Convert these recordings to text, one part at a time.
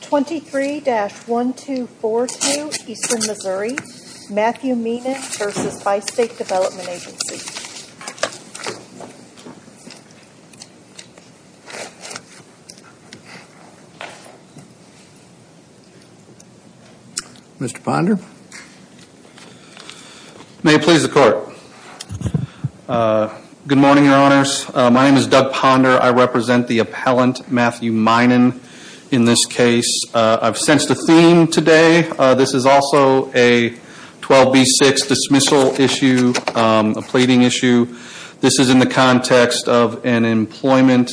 23-1242 Eastern Missouri Matthew Meinen v. Bi-State Development Agency Mr. Ponder? May it please the Court. Good morning, Your Honors. My name is Doug Ponder. I represent the appellant, Matthew Meinen, in this case. I've sensed a theme today. This is also a 12b6 dismissal issue, a pleading issue. This is in the context of an employment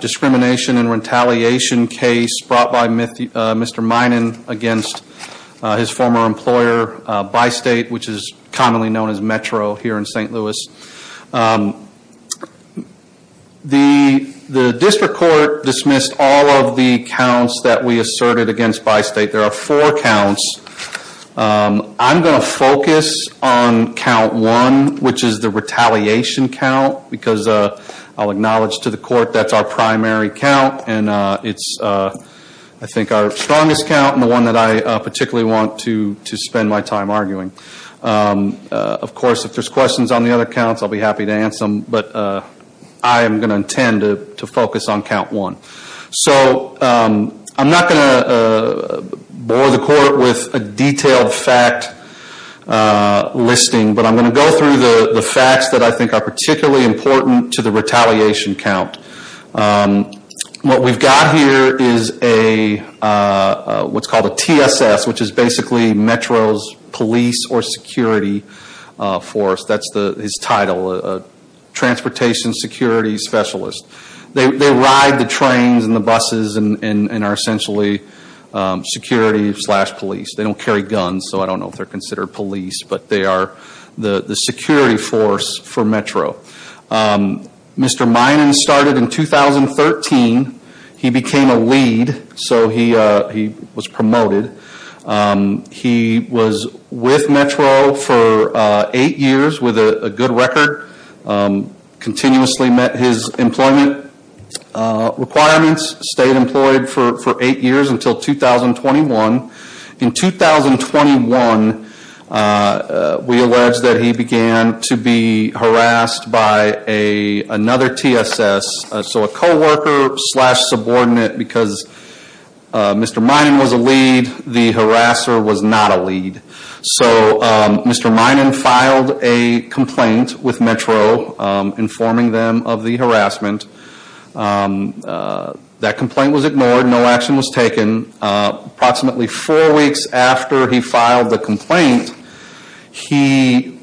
discrimination and retaliation case brought by Mr. Meinen v. his former employer, Bi-State, which is commonly known as Metro here in St. Louis. The district court dismissed all of the counts that we asserted against Bi-State. There are four counts. I'm going to focus on count one, which is the retaliation count, because I'll acknowledge to the Court that's our primary count, and it's, I think, our strongest count, and the one that I particularly want to spend my time arguing. Of course, if there's questions on the other counts, I'll be happy to answer them, but I am going to intend to focus on count one. So I'm not going to bore the Court with a detailed fact listing, but I'm going to go through the facts that I think are particularly important to the retaliation count. What we've got here is what's called a TSS, which is basically Metro's Police or Security Force. That's his title, Transportation Security Specialist. They ride the trains and the buses and are essentially security slash police. They don't carry guns, so I don't know if they're considered police, but they are the security force for Metro. Mr. Minan started in 2013. He became a lead, so he was promoted. He was with Metro for eight years with a good record, continuously met his employment requirements, stayed employed for eight years until 2021. In 2021, we allege that he began to be harassed by another TSS, so a co-worker slash subordinate because Mr. Minan was a lead, the harasser was not a lead. So Mr. Minan filed a complaint with Metro informing them of the harassment. That complaint was ignored. No action was taken. Approximately four weeks after he filed the complaint, he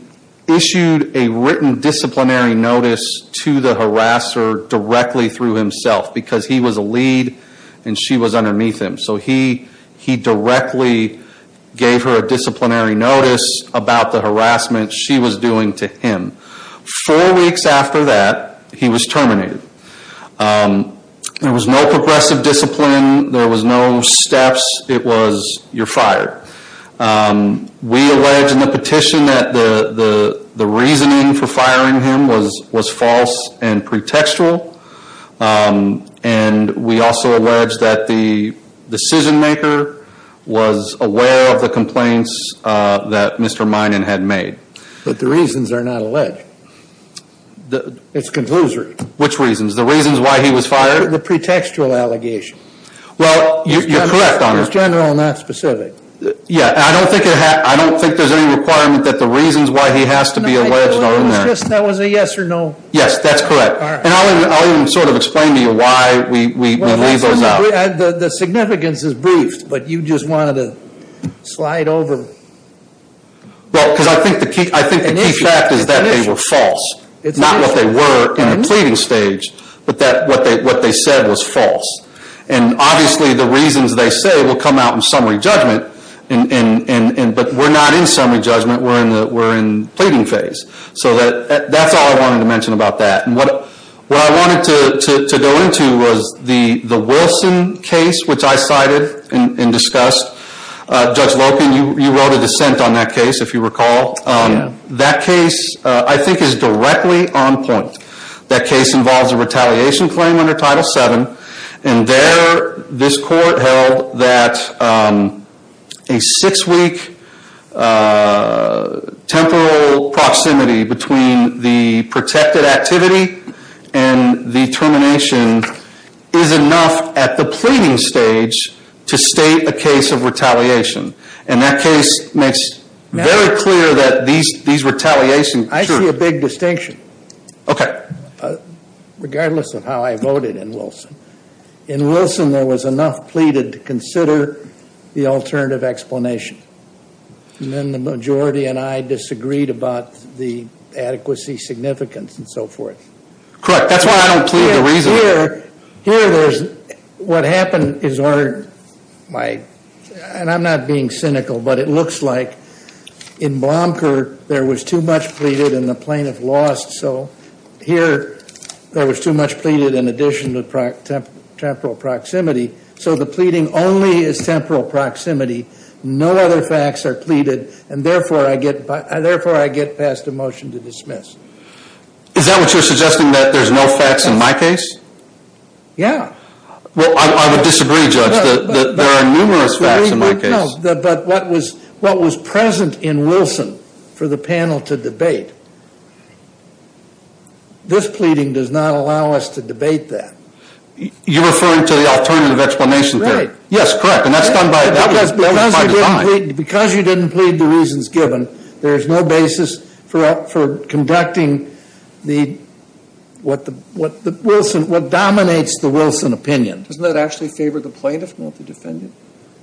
issued a written disciplinary notice to the harasser directly through himself because he was a lead and she was underneath him. So he directly gave her a disciplinary notice about the harassment she was doing to him. Four weeks after that, he was terminated. There was no progressive discipline. There was no steps. It was, you're fired. We allege in the petition that the reasoning for firing him was false and pretextual. And we also allege that the decision maker was aware of the complaints that Mr. Minan had made. But the reasons are not alleged. It's a conclusion. Which reasons? The reasons why he was fired? The pretextual allegation. Well, you're correct on this. It's general, not specific. Yeah, and I don't think there's any requirement that the reasons why he has to be alleged are in there. That was a yes or no. Yes, that's correct. And I'll even sort of explain to you why we leave those out. The significance is briefed, but you just wanted to slide over. Well, because I think the key fact is that they were false. Not what they were in the pleading stage, but what they said was false. And obviously the reasons they say will come out in summary judgment, but we're not in summary judgment. We're in the pleading phase. So that's all I wanted to mention about that. And what I wanted to go into was the Wilson case, which I cited and discussed. Judge Loken, you wrote a dissent on that case, if you recall. Yeah. That case, I think, is directly on point. That case involves a retaliation claim under Title VII. And there, this court held that a six-week temporal proximity between the protected activity and the termination is enough at the pleading stage to state a case of retaliation. And that case makes very clear that these retaliations... I see a big distinction. Okay. Regardless of how I voted in Wilson, in Wilson there was enough pleaded to consider the alternative explanation. And then the majority and I disagreed about the adequacy, significance, and so forth. Correct. That's why I don't plead the reason. Here, what happened is... And I'm not being cynical, but it looks like in Blomker, there was too much pleaded and the plaintiff lost. So here, there was too much pleaded in addition to temporal proximity. So the pleading only is temporal proximity. No other facts are pleaded. And therefore, I get passed a motion to dismiss. Is that what you're suggesting? That there's no facts in my case? Yeah. Well, I would disagree, Judge, that there are numerous facts in my case. But what was present in Wilson for the panel to debate, this pleading does not allow us to debate that. You're referring to the alternative explanation period? Right. Yes, correct. And that's done by design. Because you didn't plead the reasons given, there's no basis for conducting what dominates the Wilson opinion. Doesn't that actually favor the plaintiff, not the defendant?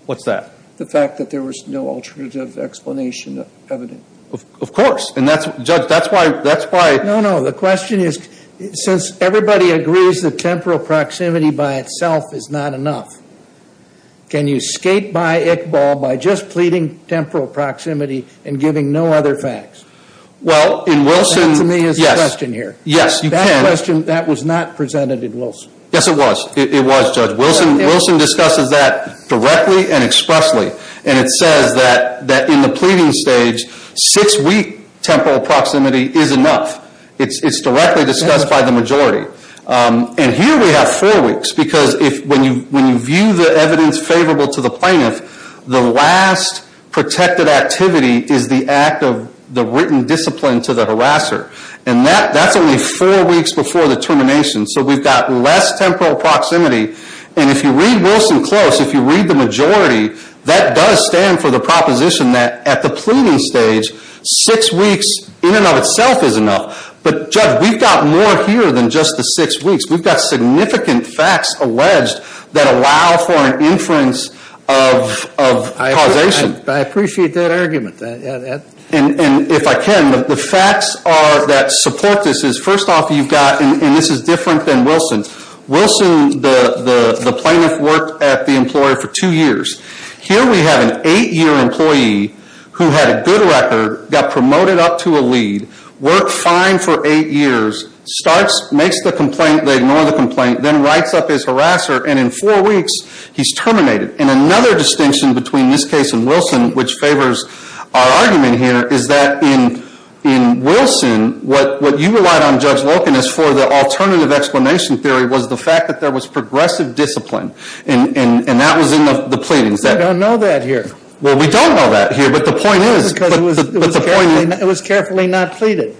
What's that? The fact that there was no alternative explanation evident. Of course. And Judge, that's why... No, no. The question is, since everybody agrees that temporal proximity by itself is not enough, can you skate by Iqbal by just pleading temporal proximity and giving no other facts? Well, in Wilson... That, to me, is the question here. Yes, you can. That question, that was not presented in Wilson. Yes, it was. It was, Judge. Wilson discusses that directly and expressly. And it says that in the pleading stage, six-week temporal proximity is enough. It's directly discussed by the majority. And here we have four weeks. Because when you view the evidence favorable to the plaintiff, the last protected activity is the act of the written discipline to the harasser. And that's only four weeks before the termination. So we've got less temporal proximity. And if you read Wilson close, if you read the majority, that does stand for the proposition that at the pleading stage, six weeks in and of itself is enough. But, Judge, we've got more here than just the six weeks. We've got significant facts alleged that allow for an inference of causation. I appreciate that argument. And if I can, the facts that support this is, first off, you've got, and this is different than Wilson. Wilson, the plaintiff, worked at the employer for two years. Here we have an eight-year employee who had a good record, got promoted up to a lead, worked fine for eight years, starts, makes the complaint, they ignore the complaint, then writes up his harasser, and in four weeks, he's terminated. And another distinction between this case and Wilson, which favors our argument here, is that in Wilson, what you relied on, Judge Loken, is for the alternative explanation theory was the fact that there was progressive discipline. And that was in the pleadings. We don't know that here. Well, we don't know that here, but the point is. It was carefully not pleaded.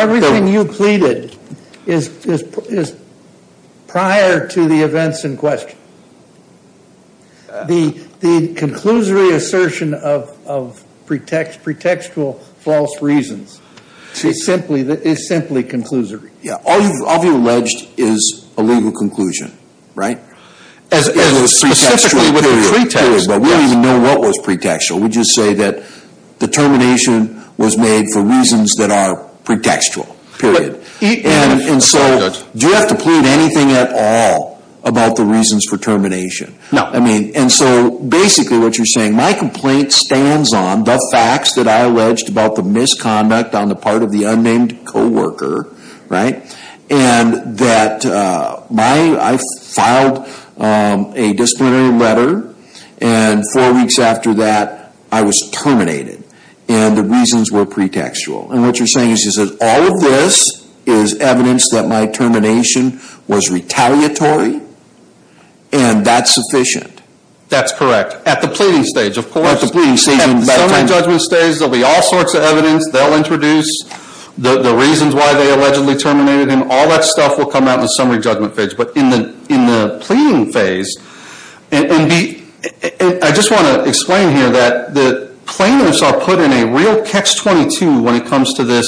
Everything you pleaded is prior to the events in question. The conclusory assertion of pretextual false reasons is simply conclusory. All you've alleged is a legal conclusion, right? Specifically with the pretext. We don't even know what was pretextual. We just say that the termination was made for reasons that are pretextual, period. And so, do you have to plead anything at all about the reasons for termination? No. And so, basically what you're saying, my complaint stands on the facts that I alleged about the misconduct on the part of the unnamed co-worker, right? And that I filed a disciplinary letter, and four weeks after that, I was terminated. And the reasons were pretextual. And what you're saying is that all of this is evidence that my termination was retaliatory, and that's sufficient. That's correct. At the pleading stage, of course. At the pleading stage. At the summary judgment stage, there will be all sorts of evidence. They'll introduce the reasons why they allegedly terminated him. All that stuff will come out in the summary judgment phase. But in the pleading phase, and I just want to explain here that the plaintiffs are put in a real catch-22 when it comes to this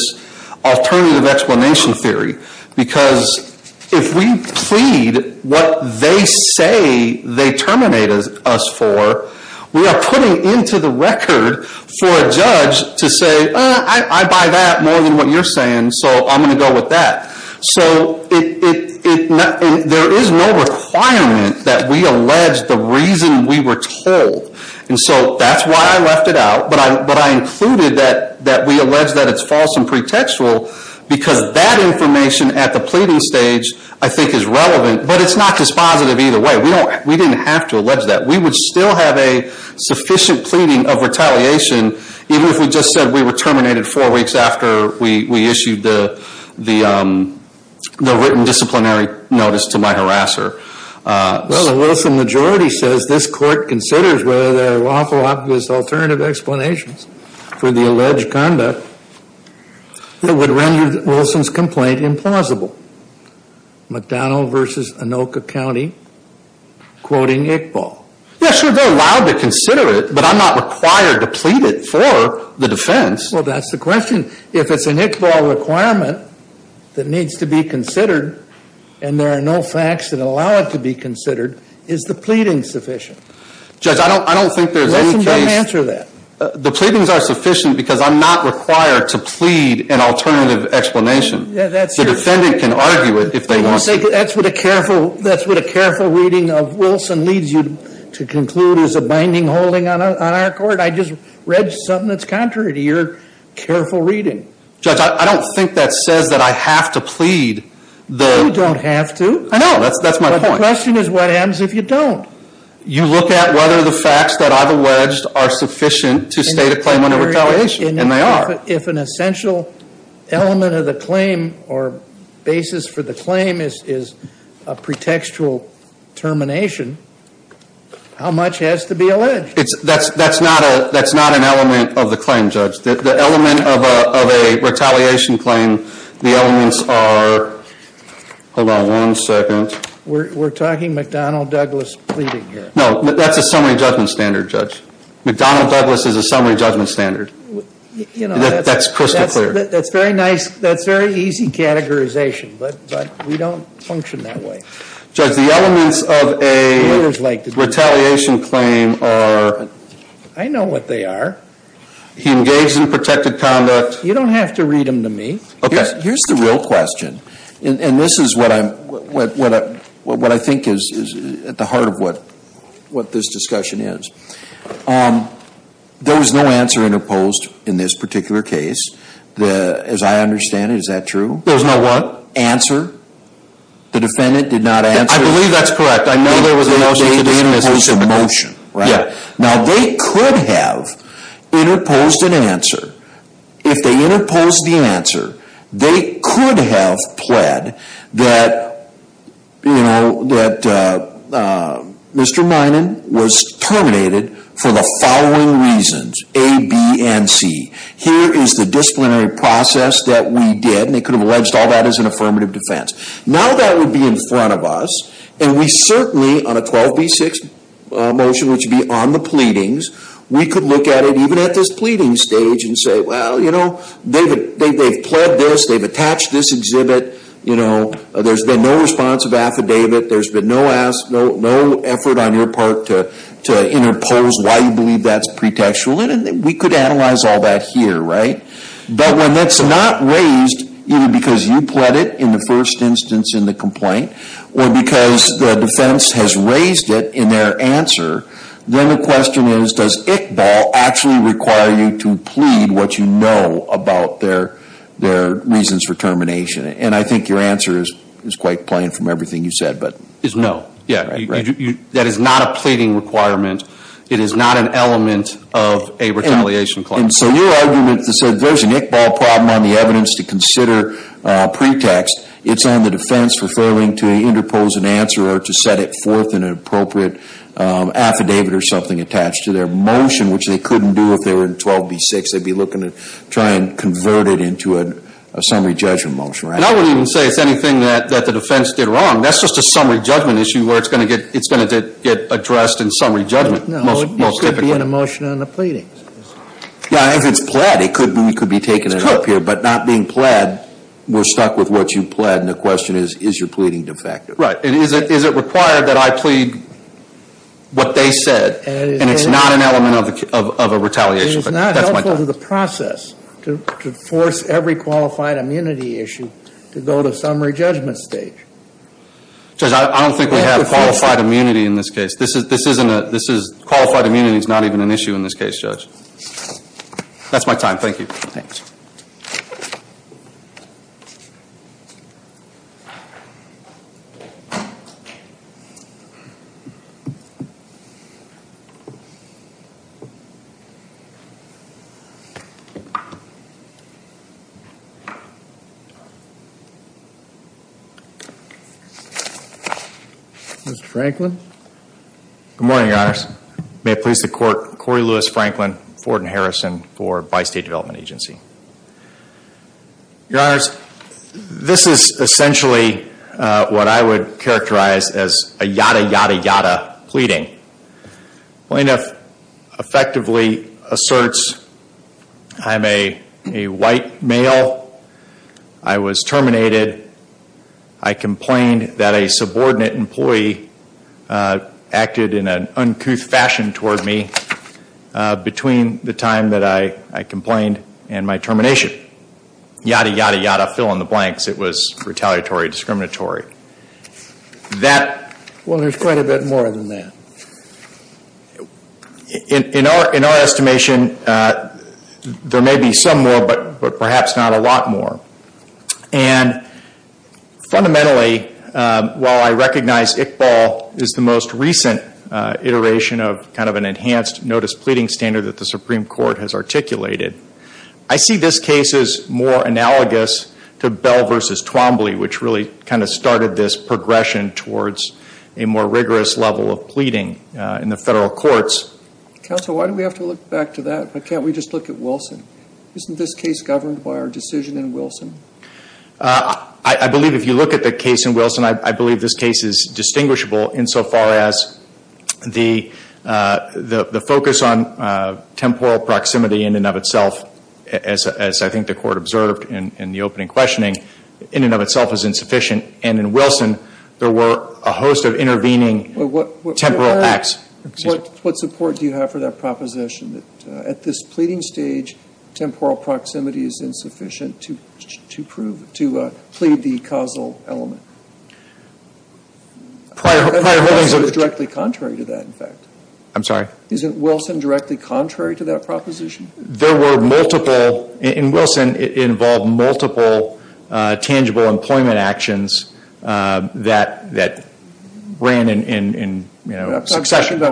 alternative explanation theory. Because if we plead what they say they terminated us for, we are putting into the record for a judge to say, I buy that more than what you're saying, so I'm going to go with that. So, there is no requirement that we allege the reason we were told. And so, that's why I left it out. But I included that we allege that it's false and pretextual, because that information at the pleading stage, I think, is relevant. But it's not dispositive either way. We didn't have to allege that. We would still have a sufficient pleading of retaliation, even if we just said we were terminated four weeks after we issued the written disciplinary notice to my harasser. Well, the Wilson majority says this court considers whether there are lawful obvious alternative explanations for the alleged conduct that would render Wilson's complaint implausible. McDonnell versus Anoka County, quoting Iqbal. Yeah, sure, they're allowed to consider it, but I'm not required to plead it for the defense. Well, that's the question. If it's an Iqbal requirement that needs to be considered, and there are no facts that allow it to be considered, is the pleading sufficient? Judge, I don't think there's any case. Let them answer that. The pleadings are sufficient because I'm not required to plead an alternative explanation. Yeah, that's true. Your defendant can argue it if they want to. That's what a careful reading of Wilson leads you to conclude is a binding holding on our court. I just read something that's contrary to your careful reading. Judge, I don't think that says that I have to plead. You don't have to. I know. That's my point. The question is what happens if you don't? You look at whether the facts that I've alleged are sufficient to state a claim under retaliation, and they are. If an essential element of the claim or basis for the claim is a pretextual termination, how much has to be alleged? That's not an element of the claim, Judge. The element of a retaliation claim, the elements are, hold on one second. We're talking McDonnell Douglas pleading here. No, that's a summary judgment standard, Judge. McDonnell Douglas is a summary judgment standard. That's crystal clear. That's very nice. That's very easy categorization, but we don't function that way. Judge, the elements of a retaliation claim are? I know what they are. He engaged in protected conduct. You don't have to read them to me. Okay. Here's the real question, and this is what I think is at the heart of what this discussion is. There was no answer interposed in this particular case. As I understand it, is that true? There was no what? Answer. The defendant did not answer. I believe that's correct. They interposed a motion, right? Yeah. Now, they could have interposed an answer. If they interposed the answer, they could have pled that Mr. Minan was terminated for the following reasons, A, B, and C. Here is the disciplinary process that we did, and they could have alleged all that as an affirmative defense. Now that would be in front of us, and we certainly, on a 12B6 motion, which would be on the pleadings, we could look at it even at this pleading stage and say, well, you know, they've pled this. They've attached this exhibit. You know, there's been no response of affidavit. There's been no effort on your part to interpose why you believe that's pretextual. We could analyze all that here, right? But when that's not raised, either because you pled it in the first instance in the complaint or because the defense has raised it in their answer, then the question is, does Iqbal actually require you to plead what you know about their reasons for termination? And I think your answer is quite plain from everything you said. It's no. Yeah. That is not a pleading requirement. It is not an element of a retaliation clause. And so your argument is that there's an Iqbal problem on the evidence to consider pretext. It's on the defense for failing to interpose an answer or to set it forth in an appropriate affidavit or something attached to their motion, which they couldn't do if they were in 12B6. They'd be looking to try and convert it into a summary judgment motion, right? And I wouldn't even say it's anything that the defense did wrong. That's just a summary judgment issue where it's going to get addressed in summary judgment most typically. Yeah, if it's pled, we could be taking it up here. But not being pled, we're stuck with what you pled, and the question is, is your pleading defective? Right. And is it required that I plead what they said? And it's not an element of a retaliation. It is not helpful to the process to force every qualified immunity issue to go to summary judgment stage. Judge, I don't think we have qualified immunity in this case. Qualified immunity is not even an issue in this case, Judge. That's my time. Thank you. Thanks. Thank you. Mr. Franklin? Your Honors, may it please the Court, Corey Lewis Franklin, Ford & Harrison for Bi-State Development Agency. Your Honors, this is essentially what I would characterize as a yada, yada, yada pleading. Plaintiff effectively asserts I'm a white male. I was terminated. I complained that a subordinate employee acted in an uncouth fashion toward me between the time that I complained and my termination. Yada, yada, yada, fill in the blanks. It was retaliatory, discriminatory. Well, there's quite a bit more than that. In our estimation, there may be some more, but perhaps not a lot more. And fundamentally, while I recognize Iqbal is the most recent iteration of kind of an enhanced notice pleading standard that the Supreme Court has articulated, I see this case as more analogous to Bell v. Twombly, which really kind of started this progression towards a more rigorous level of pleading in the federal courts. Counsel, why do we have to look back to that? Why can't we just look at Wilson? Isn't this case governed by our decision in Wilson? I believe if you look at the case in Wilson, I believe this case is distinguishable insofar as the focus on temporal proximity in and of itself, as I think the Court observed in the opening questioning, in and of itself is insufficient. And in Wilson, there were a host of intervening temporal acts. What support do you have for that proposition? That at this pleading stage, temporal proximity is insufficient to prove, to plead the causal element. Prior holdings of It's directly contrary to that, in fact. I'm sorry? Isn't Wilson directly contrary to that proposition? There were multiple, in Wilson, it involved multiple tangible employment actions that ran in, you know, succession.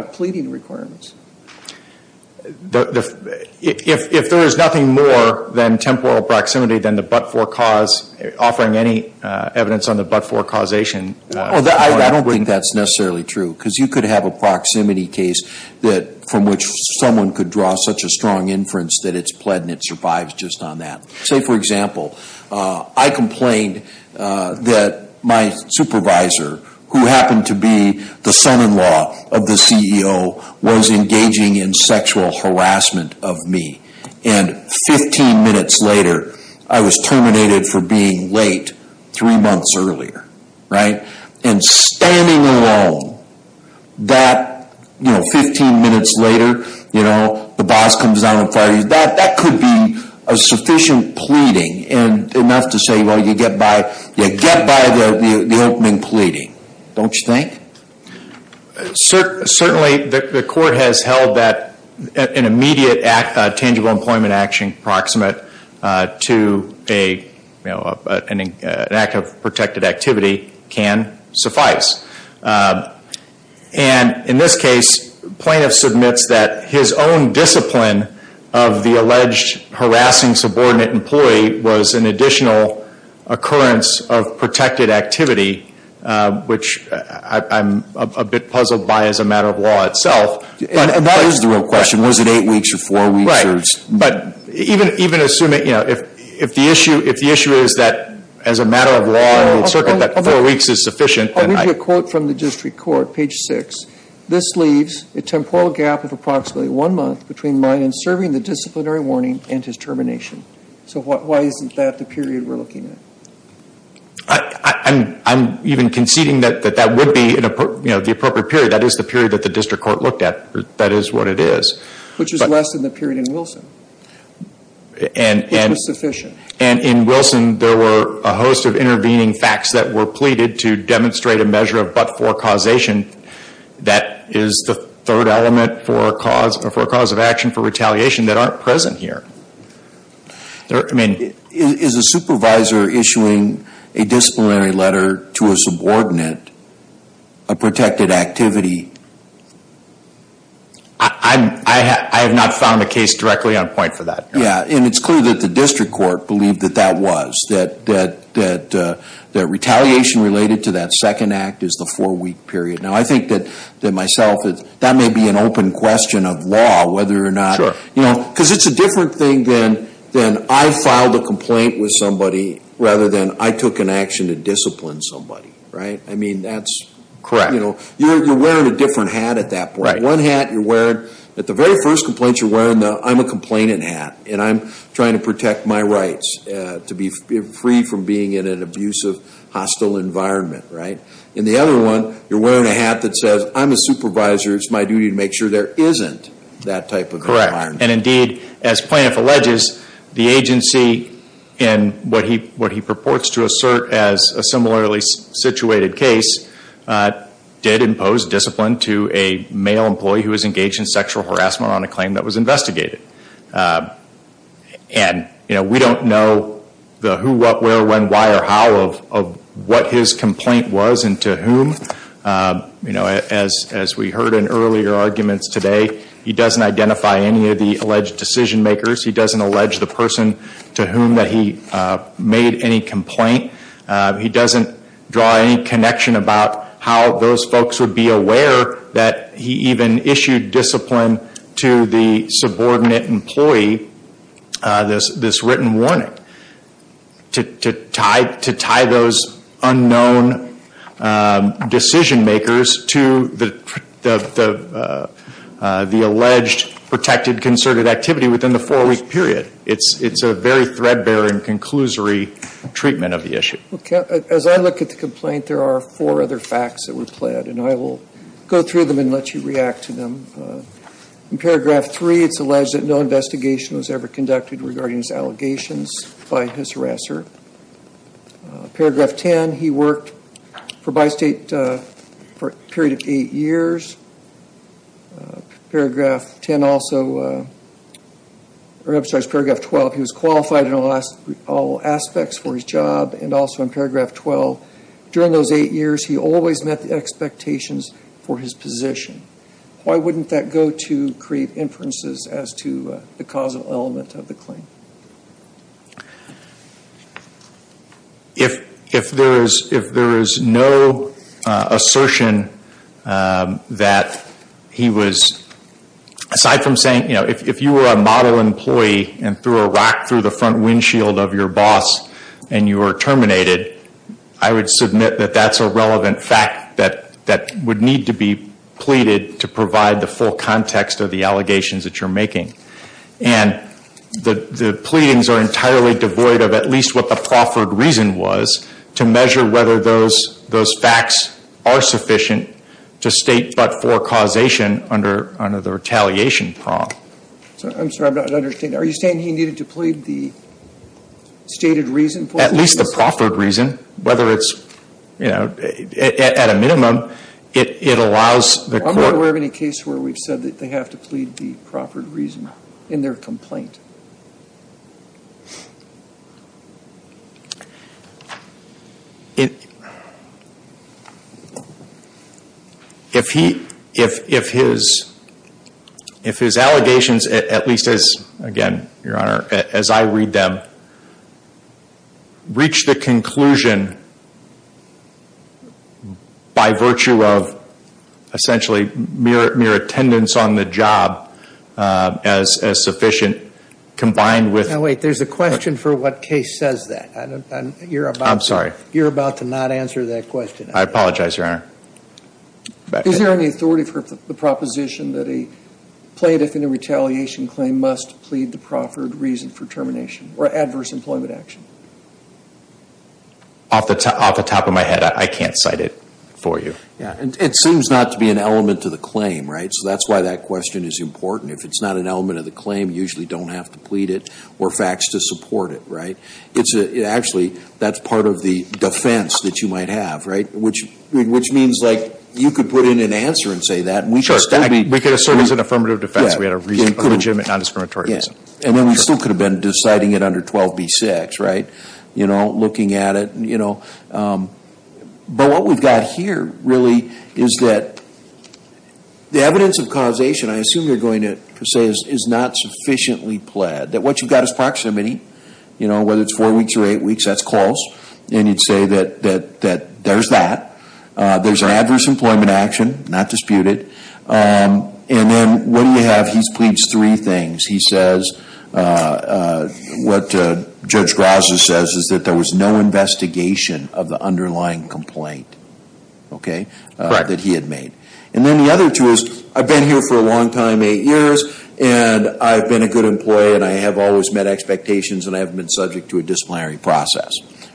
If there is nothing more than temporal proximity than the but-for cause, offering any evidence on the but-for causation I don't think that's necessarily true. Because you could have a proximity case from which someone could draw such a strong inference that it's pled and it survives just on that. Say, for example, I complained that my supervisor, who happened to be the son-in-law of the CEO, was engaging in sexual harassment of me. And 15 minutes later, I was terminated for being late three months earlier, right? And standing alone, that, you know, 15 minutes later, you know, the boss comes down and fires you. That could be a sufficient pleading and enough to say, well, you get by the opening pleading, don't you think? Certainly, the court has held that an immediate tangible employment action proximate to an act of protected activity can suffice. And in this case, plaintiff submits that his own discipline of the alleged harassing subordinate employee was an additional occurrence of protected activity, which I'm a bit puzzled by as a matter of law itself. And that is the real question. Was it eight weeks or four weeks? Right. But even assuming, you know, if the issue is that as a matter of law in the circuit that four weeks is sufficient, then I I'll read you a quote from the district court, page six. This leaves a temporal gap of approximately one month between mine in serving the disciplinary warning and his termination. So why isn't that the period we're looking at? I'm even conceding that that would be, you know, the appropriate period. That is the period that the district court looked at. That is what it is. Which is less than the period in Wilson, which was sufficient. And in Wilson, there were a host of intervening facts that were pleaded to demonstrate a measure of but-for causation. That is the third element for cause of action for retaliation that aren't present here. I mean, is a supervisor issuing a disciplinary letter to a subordinate a protected activity? I have not found a case directly on point for that. Yeah. And it's clear that the district court believed that that was. That retaliation related to that second act is the four-week period. Now, I think that myself, that may be an open question of law, whether or not. Sure. You know, because it's a different thing than I filed a complaint with somebody rather than I took an action to discipline somebody. Right? I mean, that's. Correct. You know, you're wearing a different hat at that point. Right. One hat you're wearing. At the very first complaint, you're wearing the I'm a complainant hat. And I'm trying to protect my rights to be free from being in an abusive, hostile environment. Right? In the other one, you're wearing a hat that says I'm a supervisor. It's my duty to make sure there isn't that type of environment. Correct. And indeed, as Plaintiff alleges, the agency, in what he purports to assert as a similarly situated case, did impose discipline to a male employee who was engaged in sexual harassment on a claim that was investigated. And, you know, we don't know the who, what, where, when, why, or how of what his complaint was and to whom. You know, as we heard in earlier arguments today, he doesn't identify any of the alleged decision makers. He doesn't allege the person to whom that he made any complaint. He doesn't draw any connection about how those folks would be aware that he even issued discipline to the subordinate employee, this written warning, to tie those unknown decision makers to the alleged protected concerted activity within the four-week period. It's a very threadbare and conclusory treatment of the issue. As I look at the complaint, there are four other facts that were pled, and I will go through them and let you react to them. In paragraph three, it's alleged that no investigation was ever conducted regarding his allegations by his harasser. Paragraph 10, he worked for Bi-State for a period of eight years. Paragraph 10 also, or I'm sorry, it's paragraph 12, he was qualified in all aspects for his job. And also in paragraph 12, during those eight years, he always met the expectations for his position. Why wouldn't that go to create inferences as to the causal element of the claim? If there is no assertion that he was, aside from saying, you know, if you were a model employee and threw a rock through the front windshield of your boss and you were terminated, I would submit that that's a relevant fact that would need to be pleaded to provide the full context of the allegations that you're making. And the pleadings are entirely devoid of at least what the proffered reason was to measure whether those facts are sufficient to state but for causation under the retaliation prong. I'm sorry, I'm not understanding. Are you saying he needed to plead the stated reason? At least the proffered reason, whether it's, you know, at a minimum, it allows the court. I'm not aware of any case where we've said that they have to plead the proffered reason in their complaint. If he, if his, if his allegations, at least as, again, Your Honor, as I read them, reach the conclusion by virtue of essentially mere attendance on the job as sufficient combined with. Now wait, there's a question for what case says that. I'm sorry. You're about to not answer that question. I apologize, Your Honor. Is there any authority for the proposition that a plaintiff in a retaliation claim must plead the proffered reason for termination or adverse employment action? Off the top of my head, I can't cite it for you. Yeah. It seems not to be an element to the claim, right? So that's why that question is important. If it's not an element of the claim, you usually don't have to plead it or facts to support it, right? It's actually, that's part of the defense that you might have, right? Which means, like, you could put in an answer and say that. Sure. We could assert it as an affirmative defense. We had a legitimate nondiscriminatory reason. And then we still could have been deciding it under 12b-6, right? You know, looking at it, you know. But what we've got here really is that the evidence of causation, I assume you're going to say, is not sufficiently pled. That what you've got is proximity. You know, whether it's four weeks or eight weeks, that's close. And you'd say that there's that. There's an adverse employment action, not disputed. And then what do you have? He's pleads three things. He says what Judge Graza says is that there was no investigation of the underlying complaint, okay, that he had made. And then the other two is, I've been here for a long time, eight years, and I've been a good employee, and I have always met expectations, and I haven't been subject to a disciplinary process,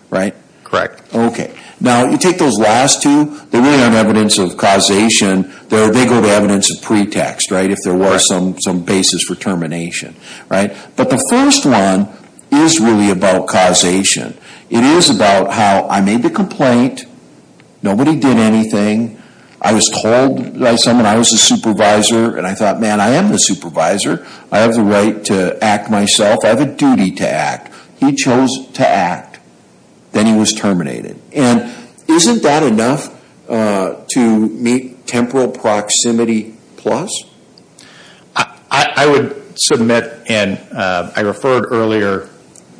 right? Correct. Okay. Now, you take those last two, they really aren't evidence of causation. They go to evidence of pretext, right? If there were some basis for termination, right? But the first one is really about causation. It is about how I made the complaint. Nobody did anything. I was told by someone, I was the supervisor, and I thought, man, I am the supervisor. I have the right to act myself. I have a duty to act. He chose to act. Then he was terminated. Isn't that enough to meet temporal proximity plus? I would submit, and I referred earlier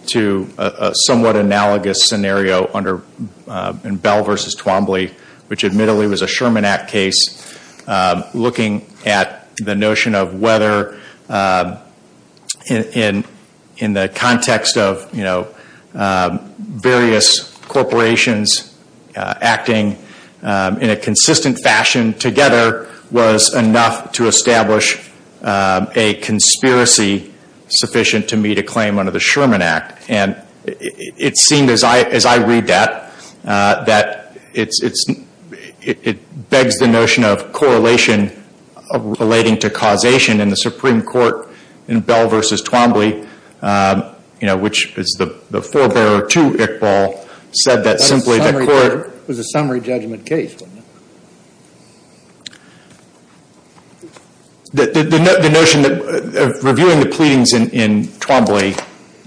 to a somewhat analogous scenario in Bell v. Twombly, which admittedly was a Sherman Act case, looking at the notion of whether, in the context of various corporations acting in a consistent fashion together, was enough to establish a conspiracy sufficient to meet a claim under the Sherman Act. And it seemed, as I read that, that it begs the notion of correlation relating to causation. And the Supreme Court in Bell v. Twombly, which is the forebearer to Iqbal, said that simply the court That was a summary judgment case, wasn't it? The notion of reviewing the pleadings in Twombly,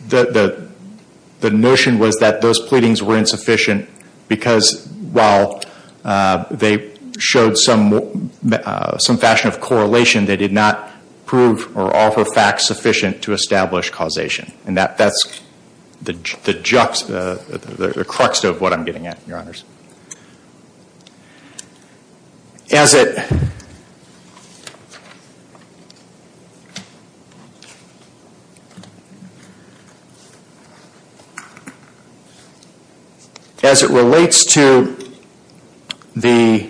the notion was that those pleadings were insufficient because while they showed some fashion of correlation, they did not prove or offer facts sufficient to establish causation. And that's the crux of what I'm getting at, Your Honors. As it relates to the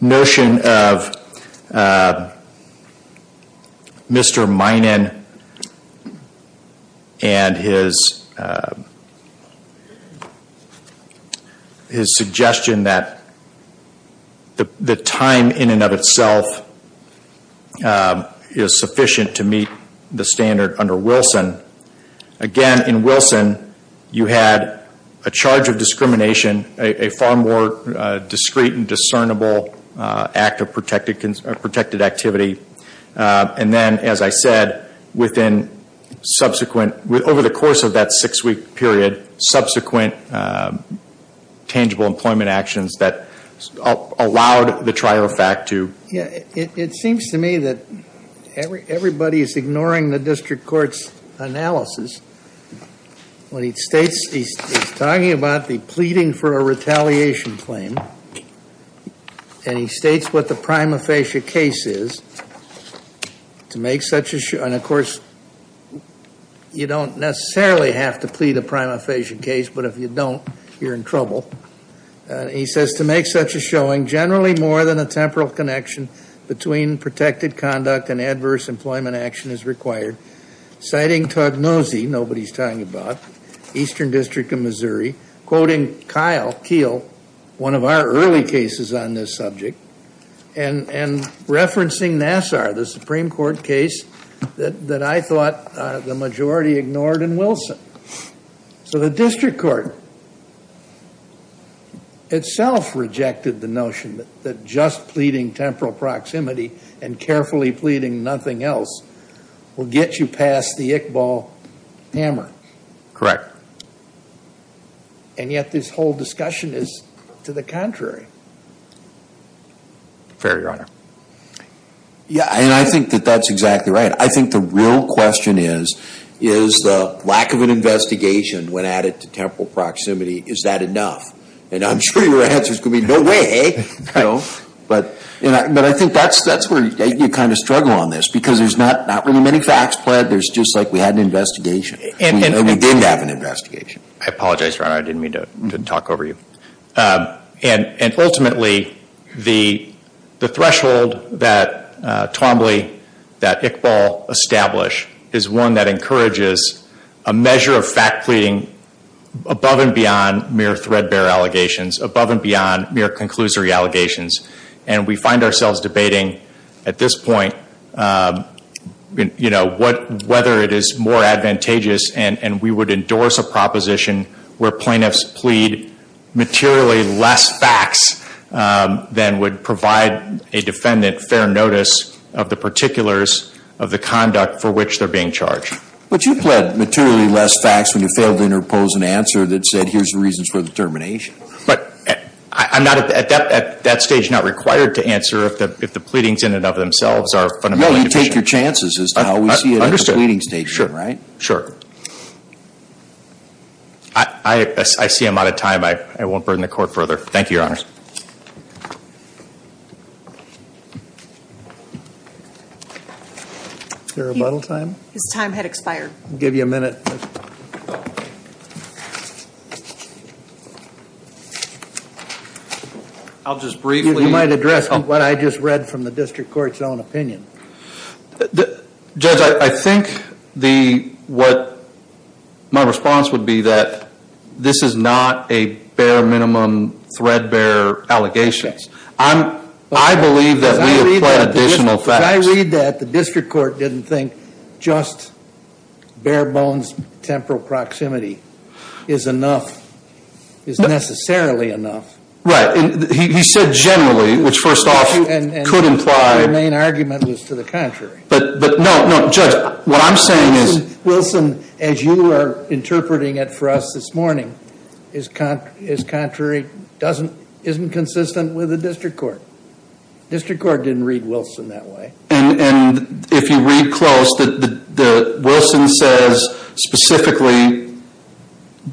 notion of Mr. Minan and his suggestion that the time in and of itself is sufficient to meet the standard under Wilson. Again, in Wilson, you had a charge of discrimination, a far more discreet and discernible act of protected activity. And then, as I said, over the course of that six-week period, subsequent tangible employment actions that allowed the trial of fact to It seems to me that everybody is ignoring the district court's analysis. He's talking about the pleading for a retaliation claim. And he states what the prima facie case is to make such a show. And, of course, you don't necessarily have to plead a prima facie case. But if you don't, you're in trouble. He says to make such a showing generally more than a temporal connection between protected conduct and adverse employment action is required. Citing Tognosi, nobody's talking about, Eastern District of Missouri. Quoting Kyle Keel, one of our early cases on this subject. And referencing Nassar, the Supreme Court case that I thought the majority ignored in Wilson. So the district court itself rejected the notion that just pleading temporal proximity and carefully pleading nothing else will get you past the Iqbal hammer. Correct. And yet this whole discussion is to the contrary. Fair, Your Honor. Yeah, and I think that that's exactly right. I think the real question is, is the lack of an investigation when added to temporal proximity, is that enough? And I'm sure your answer is going to be, no way. No. But I think that's where you kind of struggle on this. Because there's not really many facts pled. There's just like we had an investigation. We didn't have an investigation. I apologize, Your Honor. I didn't mean to talk over you. And ultimately, the threshold that Twombly, that Iqbal establish, is one that encourages a measure of fact pleading above and beyond mere threadbare allegations, above and beyond mere conclusory allegations. And we find ourselves debating at this point whether it is more advantageous and we would endorse a proposition where plaintiffs plead materially less facts than would provide a defendant fair notice of the particulars of the conduct for which they're being charged. But you pled materially less facts when you failed to interpose an answer that said here's the reasons for the termination. But I'm not at that stage not required to answer if the pleadings in and of themselves are fundamentally deficient. No, you take your chances as to how we see it at the pleading stage, right? Sure. I see I'm out of time. I won't burden the Court further. Thank you, Your Honors. Is there a rebuttal time? His time had expired. I'll give you a minute. I'll just briefly. You might address what I just read from the District Court's own opinion. Judge, I think what my response would be that this is not a bare minimum threadbare allegation. I believe that we have pled additional facts. But I read that the District Court didn't think just bare bones temporal proximity is enough, is necessarily enough. Right. He said generally, which first off could imply. And your main argument was to the contrary. But no, no. Judge, what I'm saying is. Wilson, as you are interpreting it for us this morning, is contrary, isn't consistent with the District Court. District Court didn't read Wilson that way. And if you read close, Wilson says specifically,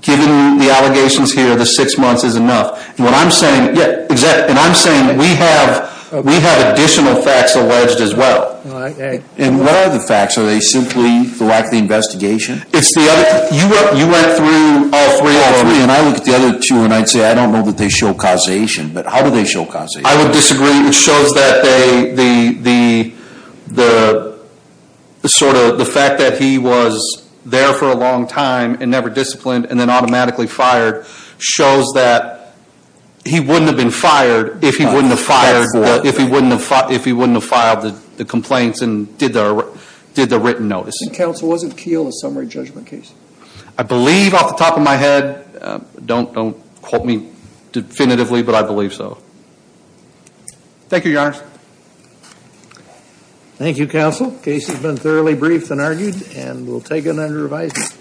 given the allegations here, the six months is enough. And what I'm saying. Yeah, exactly. And I'm saying we have additional facts alleged as well. And what are the facts? Are they simply the lack of the investigation? It's the other. You went through all three. And I looked at the other two. And I'd say, I don't know that they show causation. But how do they show causation? I would disagree. It shows that the sort of, the fact that he was there for a long time and never disciplined and then automatically fired, shows that he wouldn't have been fired if he wouldn't have filed the complaints and did the written notice. And counsel, was it Keele, a summary judgment case? I believe off the top of my head. Don't quote me definitively, but I believe so. Thank you, Your Honor. Thank you, counsel. Case has been thoroughly briefed and argued. And we'll take it under revision.